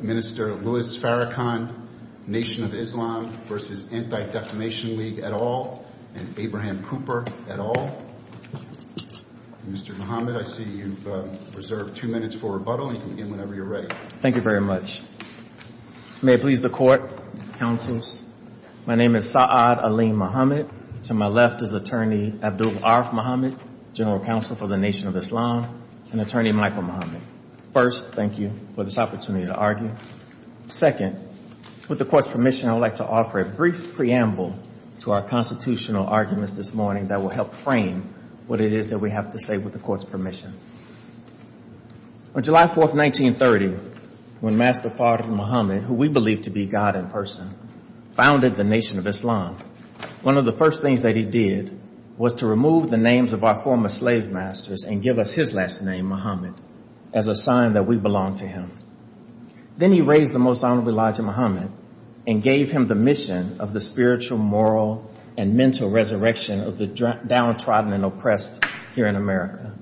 Minister Louis Farrakhan, Nation of Islam v. Anti-Defamation League, et al., and Abraham Cooper, et al. Mr. Mohammed, I see you've reserved two minutes for rebuttal, and you can begin whenever you're ready. Thank you very much. May it please the Court, Counsels. My name is Sa'ad Ali Mohammed. To my left is Attorney Abdul Araf Mohammed, General Counsel for the Nation of Islam, and Attorney Michael Mohammed. First, thank you for this opportunity to argue. Second, with the Court's permission, I would like to offer a brief preamble to our constitutional arguments this morning that will help frame what it is that we have to say with the Court's permission. On July 4, 1930, when Master Farrakhan Mohammed, who we believe to be God in person, founded the Nation of Islam, one of the first things that he did was to remove the names of our former slave masters and give us his last name, Mohammed, as a sign that we belonged to him. Then he raised the Most Honorable Elijah Mohammed and gave him the mission of the spiritual, moral, and mental resurrection of the downtrodden and oppressed here in America.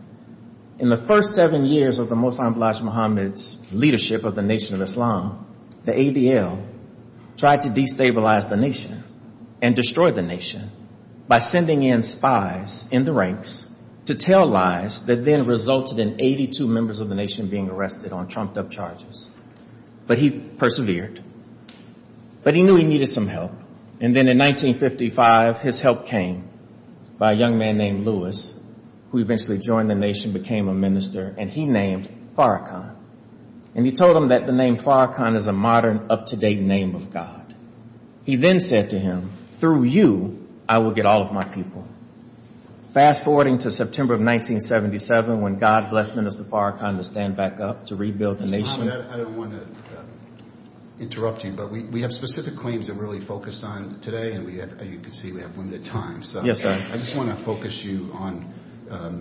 In the first seven years of the Most Honorable Elijah Mohammed's leadership of the Nation of Islam, the ADL tried to destabilize the nation and destroy the nation by sending in spies in the ranks to tell lies that then resulted in 82 members of the nation being arrested on trumped-up charges. But he persevered. But he knew he needed some help. And then in 1955, his help came by a young man named Louis, who eventually joined the nation, became a minister, and he named Farrakhan. And he told him that the name Farrakhan is a modern, up-to-date name of God. He then said to him, through you, I will get all of my people. Fast-forwarding to September of 1977, when God blessed Minister Farrakhan to stand back up to rebuild the nation. So, Mohammed, I don't want to interrupt you, but we have specific claims that we're really focused on today, and as you can see, we have limited time. So I just want to focus you on,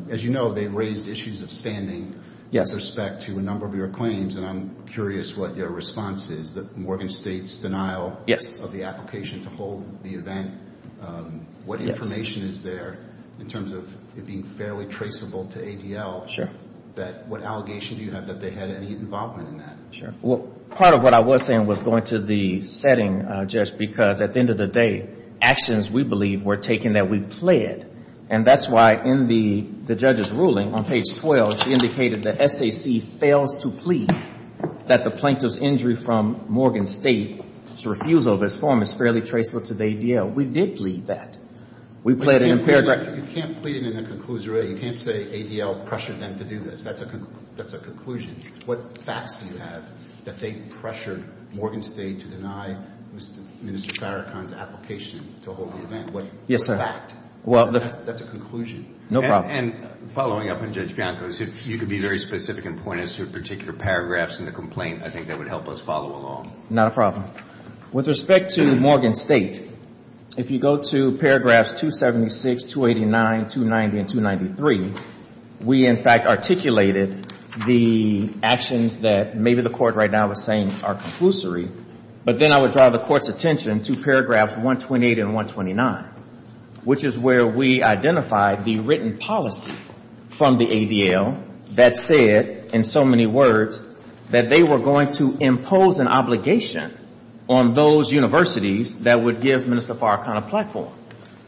as you know, they raised issues of standing with respect to a number of your claims, and I'm curious what your response is, that Morgan State's denial of the application to hold the event, what information is there in terms of it being fairly traceable to ADL, that what allegation do you have that they had any involvement in that? Sure. Well, part of what I was saying was going to the setting, just because at the end of the day, actions, we believe, were taken that we pled. And that's why in the judge's ruling, on page 12, she indicated that SAC fails to plead that the plaintiff's injury from Morgan State's refusal of his form is fairly traceable to the ADL. We did plead that. You can't plead it in a conclusion. You can't say ADL pressured them to do this. That's a conclusion. What facts do you have that they pressured Morgan State to deny Mr. Farrakhan's application to hold the event? Yes, sir. What fact? That's a conclusion. No problem. And following up on Judge Bianco's, if you could be very specific and point us to a particular paragraph in the complaint, I think that would help us follow along. Not a problem. With respect to Morgan State, if you go to paragraphs 276, 289, 290, and 293, we, in fact, articulated the actions that maybe the Court right now is saying are conclusory. But then I would draw the Court's attention to paragraphs 128 and 129, which is where we identified the written policy from the ADL that said, in so many words, that they were going to impose an obligation on those universities that would give Mr. Farrakhan a platform.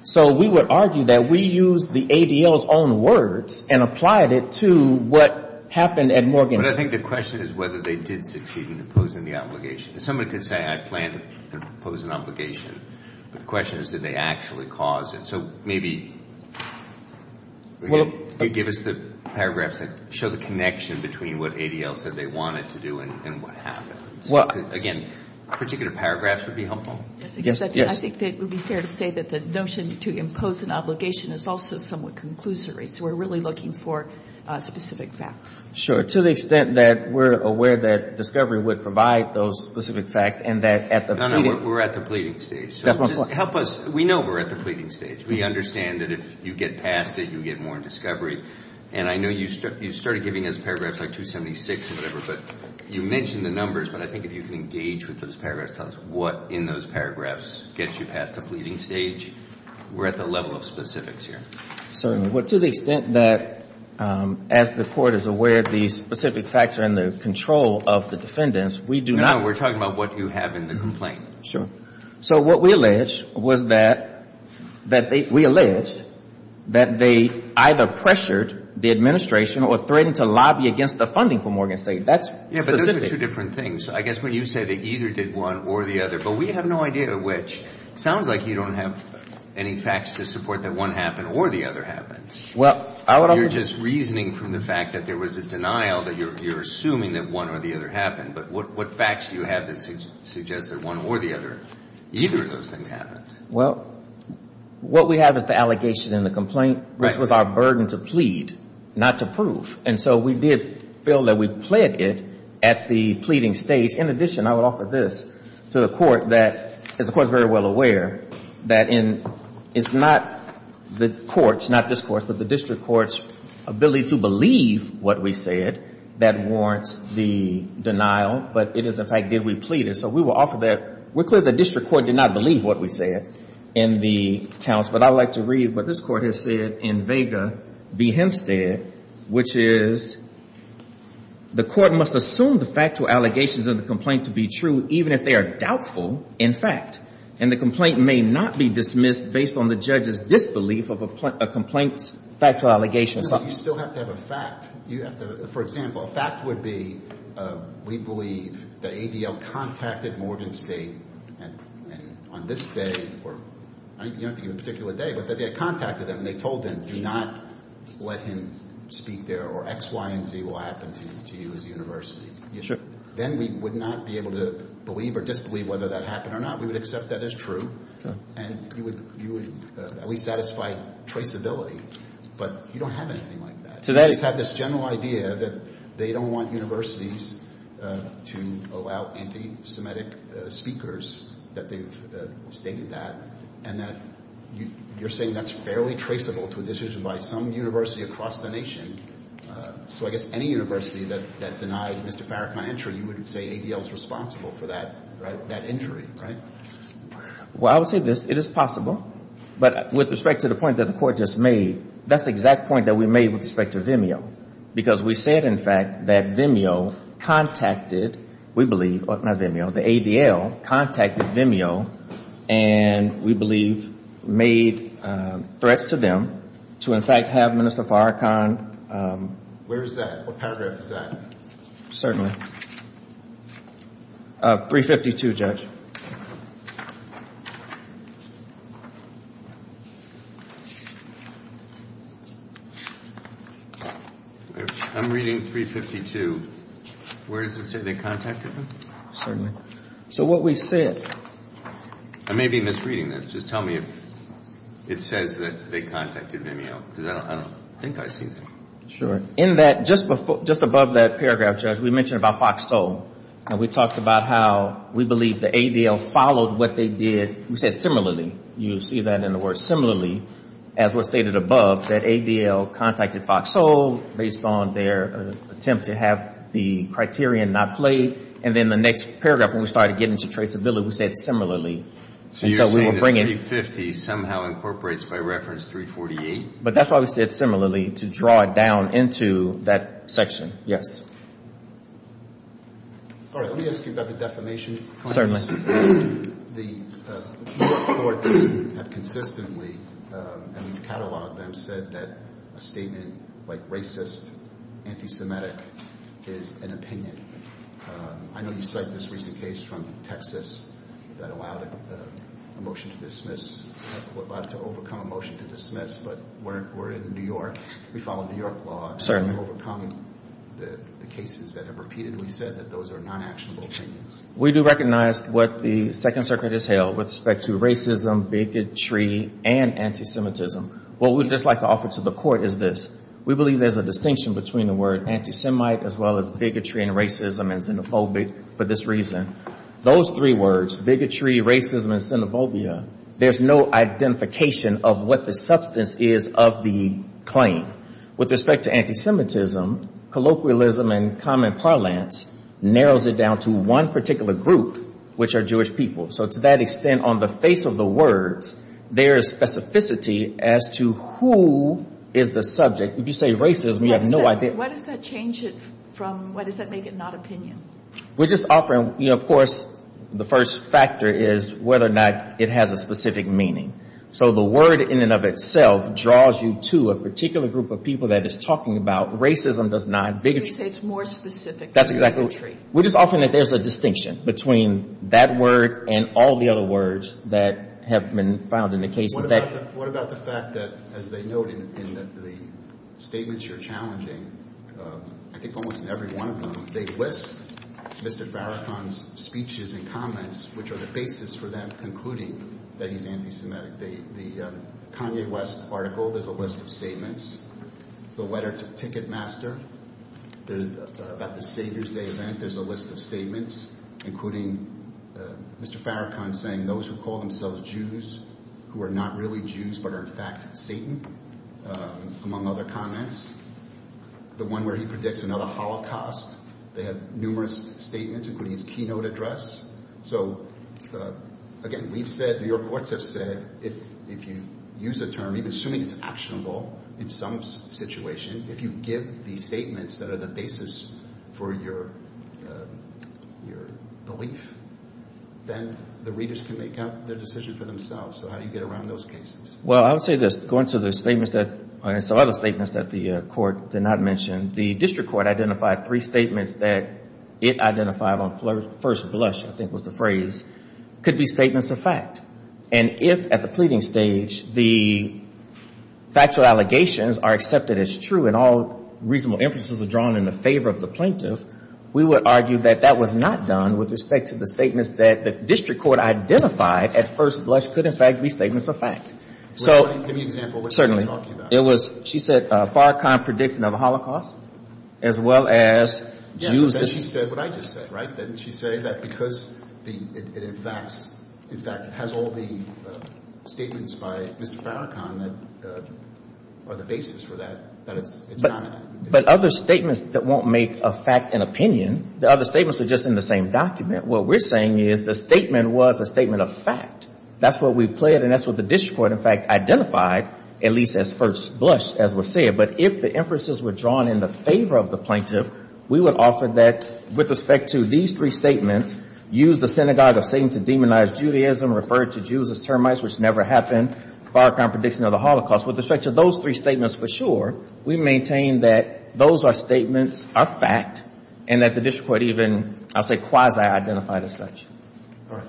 So we would argue that we used the ADL's own words and applied it to what happened at Morgan State. But I think the question is whether they did succeed in imposing the obligation. Somebody could say I planned to impose an obligation, but the question is did they actually cause it. So maybe give us the paragraphs that show the connection between what ADL said they wanted to do and what happened. Again, particular paragraphs would be helpful. I think that it would be fair to say that the notion to impose an obligation is also somewhat conclusory. So we're really looking for specific facts. Sure. To the extent that we're aware that discovery would provide those specific facts and that at the pleading stage. We're at the pleading stage. Help us. We know we're at the pleading stage. We understand that if you get past it, you get more in discovery. And I know you started giving us paragraphs like 276 and whatever, but you mentioned the numbers. But I think if you can engage with those paragraphs, tell us what in those paragraphs gets you past the pleading stage. We're at the level of specifics here. Certainly. Well, to the extent that as the Court is aware of the specific facts are in the control of the defendants, we do not. No, no. We're talking about what you have in the complaint. Sure. So what we allege was that we alleged that they either pressured the administration or threatened to lobby against the funding for Morgan State. That's specific. Yeah, but those are two different things. I guess when you say they either did one or the other. But we have no idea which. It sounds like you don't have any facts to support that one happened or the other happened. Well, I would argue. You're just reasoning from the fact that there was a denial that you're assuming that one or the other happened. But what facts do you have that suggest that one or the other, either of those things happened? Well, what we have is the allegation in the complaint, which was our burden to plead, not to prove. And so we did feel that we pled it at the pleading stage. In addition, I would offer this to the Court that, as the Court is very well aware, that it's not the Court's, not this Court's, but the district court's ability to believe what we said that warrants the denial. But it is, in fact, did we plead it. So we will offer that. We're clear the district court did not believe what we said in the accounts. But I would like to read what this Court has said in Vega v. Hempstead, which is, The Court must assume the factual allegations of the complaint to be true, even if they are doubtful, in fact. And the complaint may not be dismissed based on the judge's disbelief of a complaint's factual allegations. You still have to have a fact. For example, a fact would be we believe that ADL contacted Morgan State on this day, or you don't have to give a particular day, but that they had contacted them and they told them do not let him speak there or X, Y, and Z will happen to you as a university. Then we would not be able to believe or disbelieve whether that happened or not. We would accept that as true, and you would at least satisfy traceability. But you don't have anything like that. You just have this general idea that they don't want universities to allow anti-Semitic speakers, that they've stated that, and that you're saying that's fairly traceable to a decision by some university across the nation. So I guess any university that denied Mr. Farrakhan entry, you would say ADL is responsible for that, right, that injury, right? Well, I would say this. It is possible. But with respect to the point that the Court just made, that's the exact point that we made with respect to Vimeo, because we said, in fact, that Vimeo contacted, we believe, not Vimeo, the ADL contacted Vimeo, and we believe made threats to them to, in fact, have Minister Farrakhan. Where is that? What paragraph is that? Certainly. 352, Judge. I'm reading 352. Where does it say they contacted them? Certainly. So what we said. I may be misreading this. Just tell me if it says that they contacted Vimeo, because I don't think I see that. Sure. In that, just above that paragraph, Judge, we mentioned about Fox-Sol. And we talked about how we believe the ADL followed what they did. We said similarly. You see that in the words, similarly, as was stated above, that ADL contacted Fox-Sol based on their attempt to have the criterion not played. And then the next paragraph, when we started getting to traceability, we said similarly. So you're saying that 350 somehow incorporates by reference 348? But that's why we said similarly, to draw it down into that section. Yes. All right. Let me ask you about the defamation. Certainly. The courts have consistently, and we've cataloged them, said that a statement like racist, anti-Semitic is an opinion. I know you cite this recent case from Texas that allowed a motion to dismiss, but we're in New York. We follow New York law. Certainly. Overcoming the cases that have repeated. We said that those are non-actionable opinions. We do recognize what the Second Circuit has held with respect to racism, bigotry, and anti-Semitism. What we'd just like to offer to the Court is this. We believe there's a distinction between the word anti-Semite as well as bigotry and racism and xenophobic for this reason. Those three words, bigotry, racism, and xenophobia, there's no identification of what the substance is of the claim. With respect to anti-Semitism, colloquialism and common parlance narrows it down to one particular group, which are Jewish people. So to that extent, on the face of the words, there is specificity as to who is the subject. If you say racism, you have no idea. What does that change it from? Why does that make it not opinion? We're just offering, you know, of course, the first factor is whether or not it has a specific meaning. So the word in and of itself draws you to a particular group of people that it's talking about. Racism does not. You say it's more specific than bigotry. That's exactly. We're just offering that there's a distinction between that word and all the other words that have been found in the cases. What about the fact that, as they note in the statements you're challenging, I think almost in every one of them, they list Mr. Farrakhan's speeches and comments, which are the basis for them concluding that he's anti-Semitic. The Kanye West article, there's a list of statements. The letter to Ticketmaster about the Savior's Day event, there's a list of statements, including Mr. Farrakhan saying those who call themselves Jews who are not really Jews but are in fact Satan, among other comments. The one where he predicts another Holocaust. They have numerous statements, including his keynote address. So, again, we've said, New York courts have said, if you use the term, even assuming it's actionable in some situation, if you give the statements that are the basis for your belief, then the readers can make out their decision for themselves. So how do you get around those cases? Well, I would say this. Going to the statements that, some other statements that the court did not mention, the district court identified three statements that it identified on first blush, I think was the phrase, could be statements of fact. And if, at the pleading stage, the factual allegations are accepted as true and all reasonable inferences are drawn in the favor of the plaintiff, we would argue that that was not done with respect to the statements that the district court identified at first blush could, in fact, be statements of fact. So. Give me an example of what you're talking about. It was, she said, Farrakhan predicts another Holocaust, as well as Jews. Yeah, but then she said what I just said, right? Didn't she say that because it in fact has all the statements by Mr. Farrakhan that are the basis for that, that it's not? But other statements that won't make a fact an opinion, the other statements are just in the same document. What we're saying is the statement was a statement of fact. That's what we pled, and that's what the district court, in fact, identified, at least as first blush, as was said. But if the inferences were drawn in the favor of the plaintiff, we would offer that with respect to these three statements, use the synagogue of Satan to demonize Judaism, refer to Jews as termites, which never happened, Farrakhan prediction of the Holocaust. With respect to those three statements for sure, we maintain that those are statements, are fact, and that the district court even, I'll say quasi-identified as such. All right.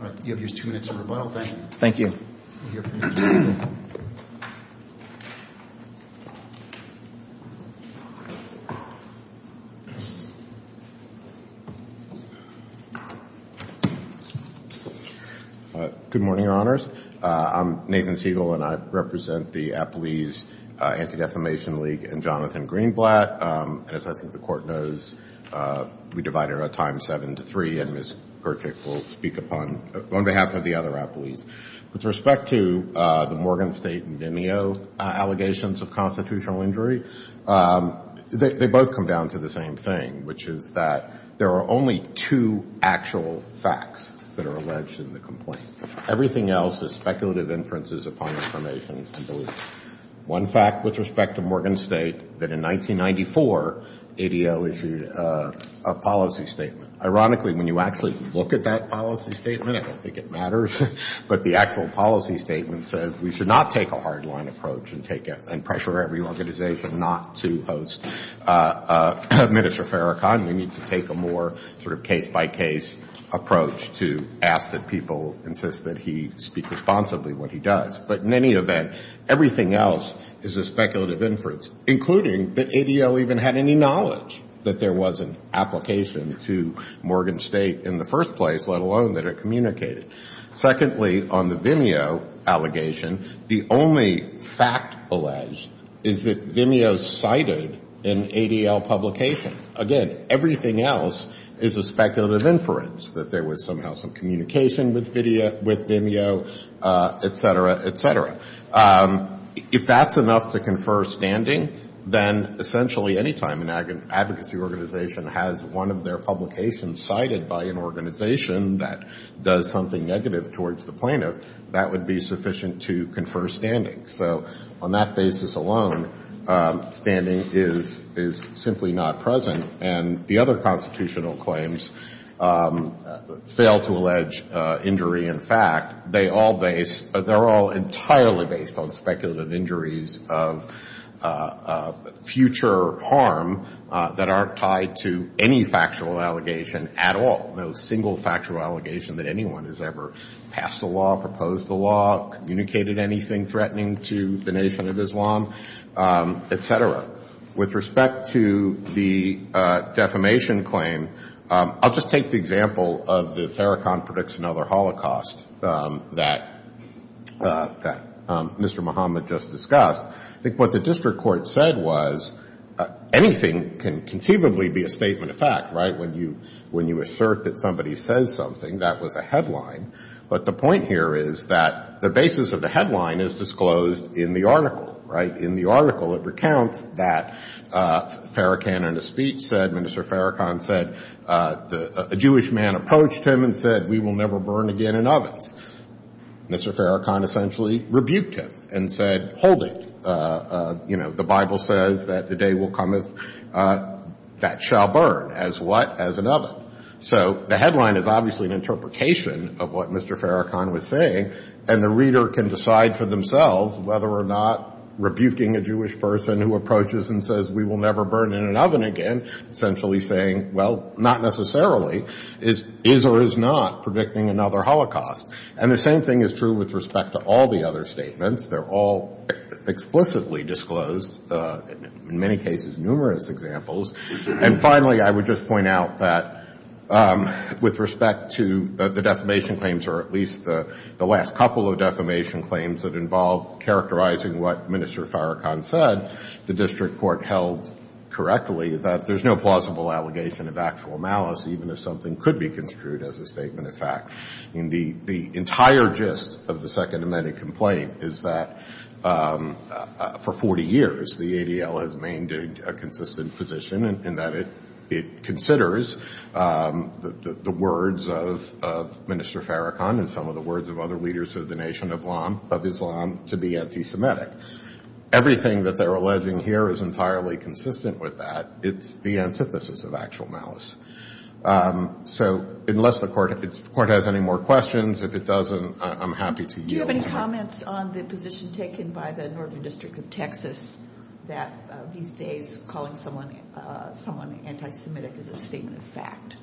All right. You have just two minutes of rebuttal. Thank you. Thank you. Good morning, Your Honors. I'm Nathan Siegel, and I represent the Appellees Anti-Defamation League and Jonathan Greenblatt. And as I think the Court knows, we divide our time seven to three, and Ms. Perchik will speak on behalf of the other appellees. With respect to the Morgan State and Vimeo allegations of constitutional injury, they both come down to the same thing, which is that there are only two actual facts that are alleged in the complaint. Everything else is speculative inferences upon information and belief. One fact with respect to Morgan State, that in 1994, ADL issued a policy statement. Ironically, when you actually look at that policy statement, I don't think it matters, but the actual policy statement says we should not take a hard-line approach and pressure every organization not to host Minister Farrakhan. We need to take a more sort of case-by-case approach to ask that people insist that he speak responsibly when he does. But in any event, everything else is a speculative inference, including that ADL even had any knowledge that there was an application to Morgan State in the first place, let alone that it communicated. Secondly, on the Vimeo allegation, the only fact alleged is that Vimeo cited an ADL publication. Again, everything else is a speculative inference, that there was somehow some communication with Vimeo, et cetera, et cetera. If that's enough to confer standing, then essentially any time an advocacy organization has one of their publications cited by an organization that does something negative towards the plaintiff, that would be sufficient to confer standing. So on that basis alone, standing is simply not present. And the other constitutional claims fail to allege injury in fact. They all base, they're all entirely based on speculative injuries of future harm that aren't tied to any factual allegation at all, no single factual allegation that anyone has ever passed a law, proposed a law, communicated anything threatening to the nation of Islam, et cetera. With respect to the defamation claim, I'll just take the example of the Theracon Predicts Another Holocaust that Mr. Muhammad just discussed. I think what the district court said was anything can conceivably be a statement of fact, right? When you assert that somebody says something, that was a headline. But the point here is that the basis of the headline is disclosed in the article, right? In the article, it recounts that Theracon in a speech said, Minister Theracon said, a Jewish man approached him and said, we will never burn again in ovens. Mr. Theracon essentially rebuked him and said, hold it. The Bible says that the day will come that shall burn. As what? As an oven. So the headline is obviously an interpretation of what Mr. Theracon was saying, and the reader can decide for themselves whether or not rebuking a Jewish person who approaches and says, we will never burn in an oven again, essentially saying, well, not necessarily. Is or is not predicting another holocaust. And the same thing is true with respect to all the other statements. They're all explicitly disclosed, in many cases numerous examples. And finally, I would just point out that with respect to the defamation claims, or at least the last couple of defamation claims that involve characterizing what Minister Theracon said, the district court held correctly that there's no plausible allegation of actual malice, even if something could be construed as a statement of fact. The entire gist of the Second Amendment complaint is that for 40 years the ADL has maintained a consistent position in that it considers the words of Minister Theracon and some of the words of other leaders of the Nation of Islam to be anti-Semitic. Everything that they're alleging here is entirely consistent with that. It's the antithesis of actual malice. So unless the court has any more questions, if it doesn't, I'm happy to yield. Do you have any comments on the position taken by the Northern District of Texas that these days calling someone anti-Semitic is a statement of fact?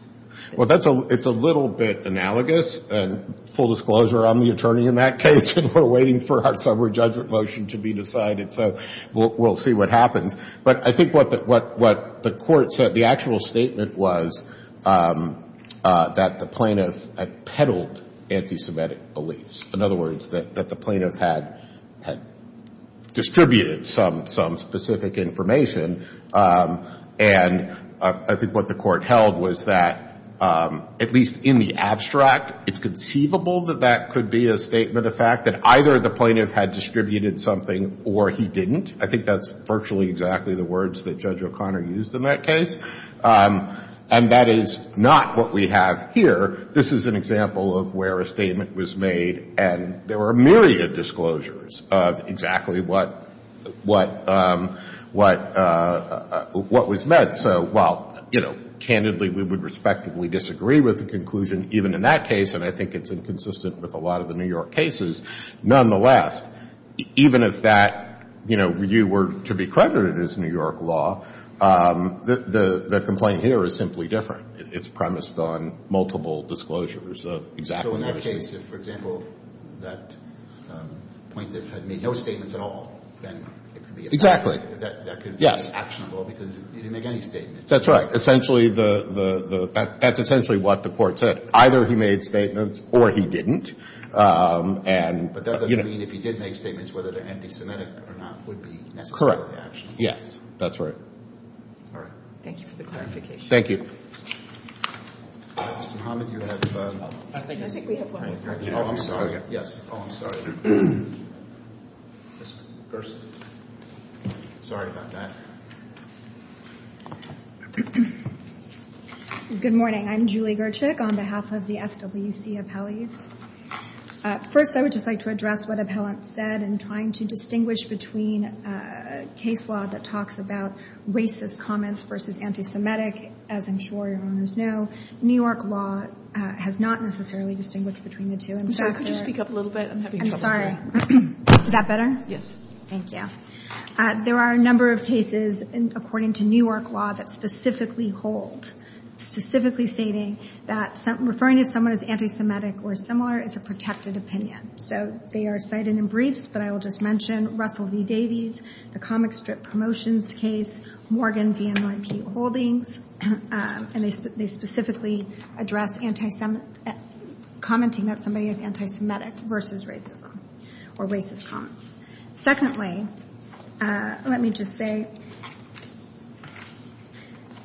Well, it's a little bit analogous. And full disclosure, I'm the attorney in that case, and we're waiting for our summary judgment motion to be decided. So we'll see what happens. But I think what the court said, the actual statement was that the plaintiff had peddled anti-Semitic beliefs. In other words, that the plaintiff had distributed some specific information. And I think what the court held was that, at least in the abstract, it's conceivable that that could be a statement of fact, that either the plaintiff had distributed something or he didn't. I think that's virtually exactly the words that Judge O'Connor used in that case. And that is not what we have here. This is an example of where a statement was made, and there were a myriad of disclosures of exactly what was meant. So while, you know, candidly, we would respectively disagree with the conclusion, even in that case, and I think it's inconsistent with a lot of the New York cases, nonetheless, even if that, you know, you were to be credited as New York law, the complaint here is simply different. It's premised on multiple disclosures of exactly what was meant. So in that case, if, for example, that plaintiff had made no statements at all, then it could be a statement. Exactly. That could be actionable because he didn't make any statements. That's right. Essentially, that's essentially what the court said. Either he made statements or he didn't. But that doesn't mean if he did make statements, whether they're anti-Semitic or not, would be necessarily actionable. Yes. That's right. All right. Thank you for the clarification. Thank you. Mr. Muhammad, you have... I think we have one. Oh, I'm sorry. Yes. Oh, I'm sorry. First. Sorry about that. Good morning. I'm Julie Gertschick on behalf of the SWC Appellees. First, I would just like to address what Appellant said in trying to distinguish between a case law that talks about racist comments versus anti-Semitic. As I'm sure Your Honors know, New York law has not necessarily distinguished between the two. In fact, there... I'm sorry. Could you speak up a little bit? I'm having trouble hearing. Is that better? Yes. Thank you. There are a number of cases, according to New York law, that specifically hold, specifically stating that referring to someone as anti-Semitic or similar is a protected opinion. So they are cited in briefs, but I will just mention Russell v. Davies, the comic strip promotions case, Morgan v. NYP Holdings, and they specifically address commenting that somebody is anti-Semitic versus racism or racist comments. Secondly, let me just say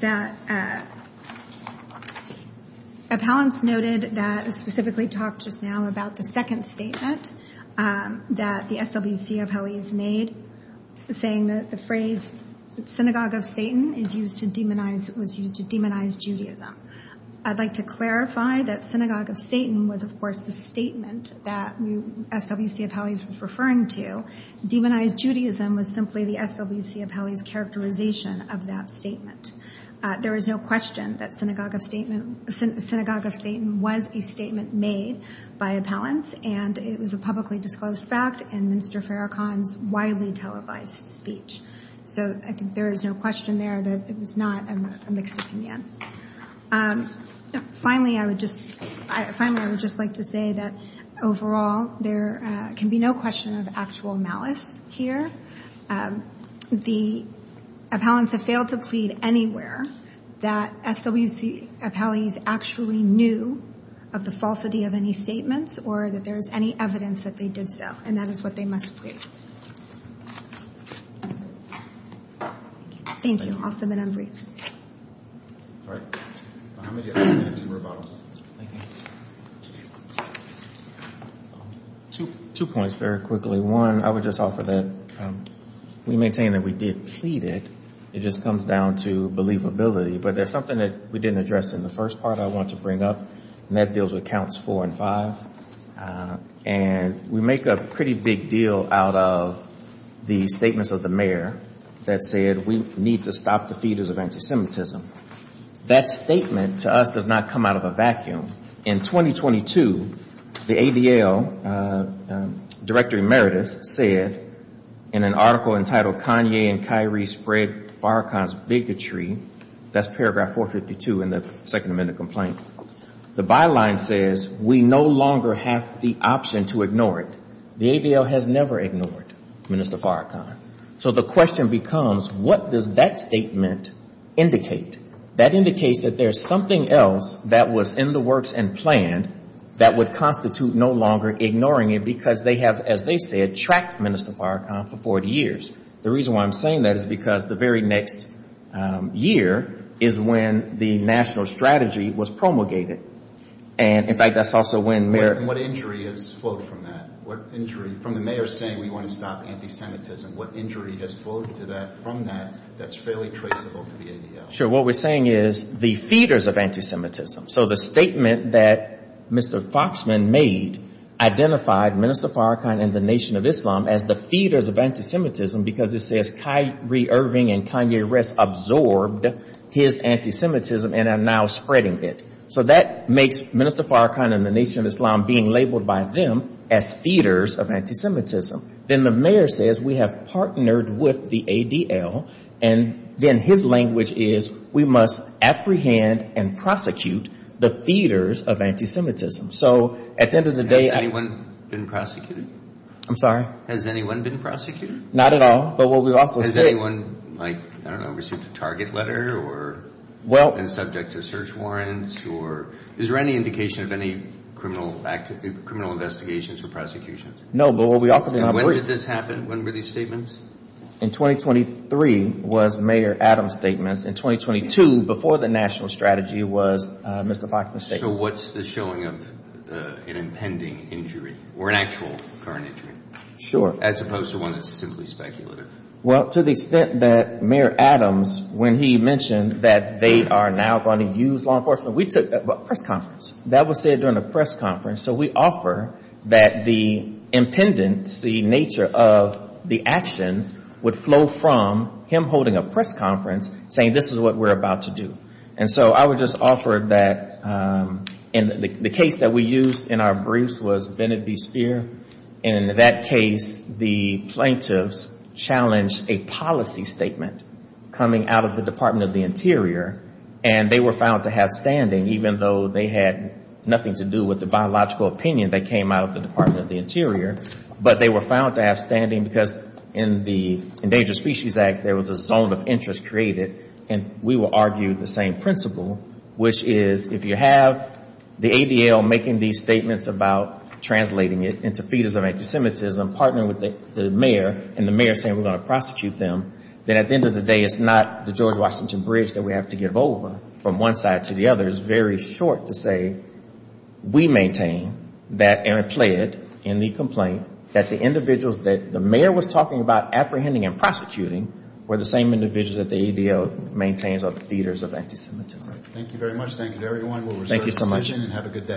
that Appellants noted that, specifically talked just now about the second statement that the SWC Appellees made saying that the phrase, synagogue of Satan was used to demonize Judaism. I'd like to clarify that synagogue of Satan was, of course, the statement that SWC Appellees were referring to. Demonized Judaism was simply the SWC Appellees' characterization of that statement. There is no question that synagogue of Satan was a statement made by Appellants, and it was a publicly disclosed fact in Minister Farrakhan's widely televised speech. So I think there is no question there that it was not a mixed opinion. Finally, I would just like to say that, overall, there can be no question of actual malice here. The Appellants have failed to plead anywhere that SWC Appellees actually knew of the falsity of any statements or that there is any evidence that they did so, and that is what they must plead. Thank you. I'll submit our briefs. All right. Two points very quickly. One, I would just offer that we maintain that we did plead it. It just comes down to believability, but there's something that we didn't address in the first part I want to bring up, and that deals with counts four and five. And we make a pretty big deal out of the statements of the mayor that said we need to stop the feeders of anti-Semitism. That statement to us does not come out of a vacuum. In 2022, the ADL, Director Emeritus, said in an article entitled Kanye and Kyrie Spread Farrakhan's Bigotry, that's paragraph 452 in the Second Amendment complaint, the byline says we no longer have the option to ignore it. The ADL has never ignored Minister Farrakhan. So the question becomes, what does that statement indicate? That indicates that there's something else that was in the works and planned that would constitute no longer ignoring it, because they have, as they said, tracked Minister Farrakhan for 40 years. The reason why I'm saying that is because the very next year is when the national strategy was promulgated. And, in fact, that's also when Mayor – And what injury has flowed from that? What injury – from the mayor saying we want to stop anti-Semitism, what injury has flowed from that that's fairly traceable to the ADL? Sure. What we're saying is the feeders of anti-Semitism. So the statement that Mr. Foxman made identified Minister Farrakhan and the Nation of Islam as the feeders of anti-Semitism because it says Kyrie Irving and Kanye West absorbed his anti-Semitism and are now spreading it. So that makes Minister Farrakhan and the Nation of Islam being labeled by them as feeders of anti-Semitism. Then the mayor says we have partnered with the ADL, and then his language is we must apprehend and prosecute the feeders of anti-Semitism. So at the end of the day – Has anyone been prosecuted? I'm sorry? Has anyone been prosecuted? Not at all, but what we also say – Has anyone, like, I don't know, received a target letter or been subject to search warrants? Is there any indication of any criminal investigations or prosecutions? No, but what we also – And when did this happen? When were these statements? In 2023 was Mayor Adams' statements. In 2022, before the national strategy, was Mr. Foxman's statements. So what's the showing of an impending injury or an actual current injury? Sure. As opposed to one that's simply speculative. Well, to the extent that Mayor Adams, when he mentioned that they are now going to use law enforcement, we took a press conference. That was said during a press conference, so we offer that the impendency nature of the actions would flow from him holding a press conference saying this is what we're about to do. And so I would just offer that in the case that we used in our briefs was Bennett v. Speer, and in that case the plaintiffs challenged a policy statement coming out of the Department of the Interior, and they were found to have standing, even though they had nothing to do with the biological opinion that came out of the Department of the Interior. But they were found to have standing because in the Endangered Species Act, there was a zone of interest created, and we will argue the same principle, which is if you have the ADL making these statements about translating it into feeders of anti-Semitism, partnering with the mayor, and the mayor saying we're going to prosecute them, then at the end of the day it's not the George Washington Bridge that we have to give over from one side to the other. It's very short to say we maintain that Aaron pled in the complaint that the individuals that the mayor was talking about apprehending and prosecuting were the same individuals that the ADL maintains are the feeders of anti-Semitism. Thank you very much. Thank you to everyone. We'll reserve a decision and have a good day.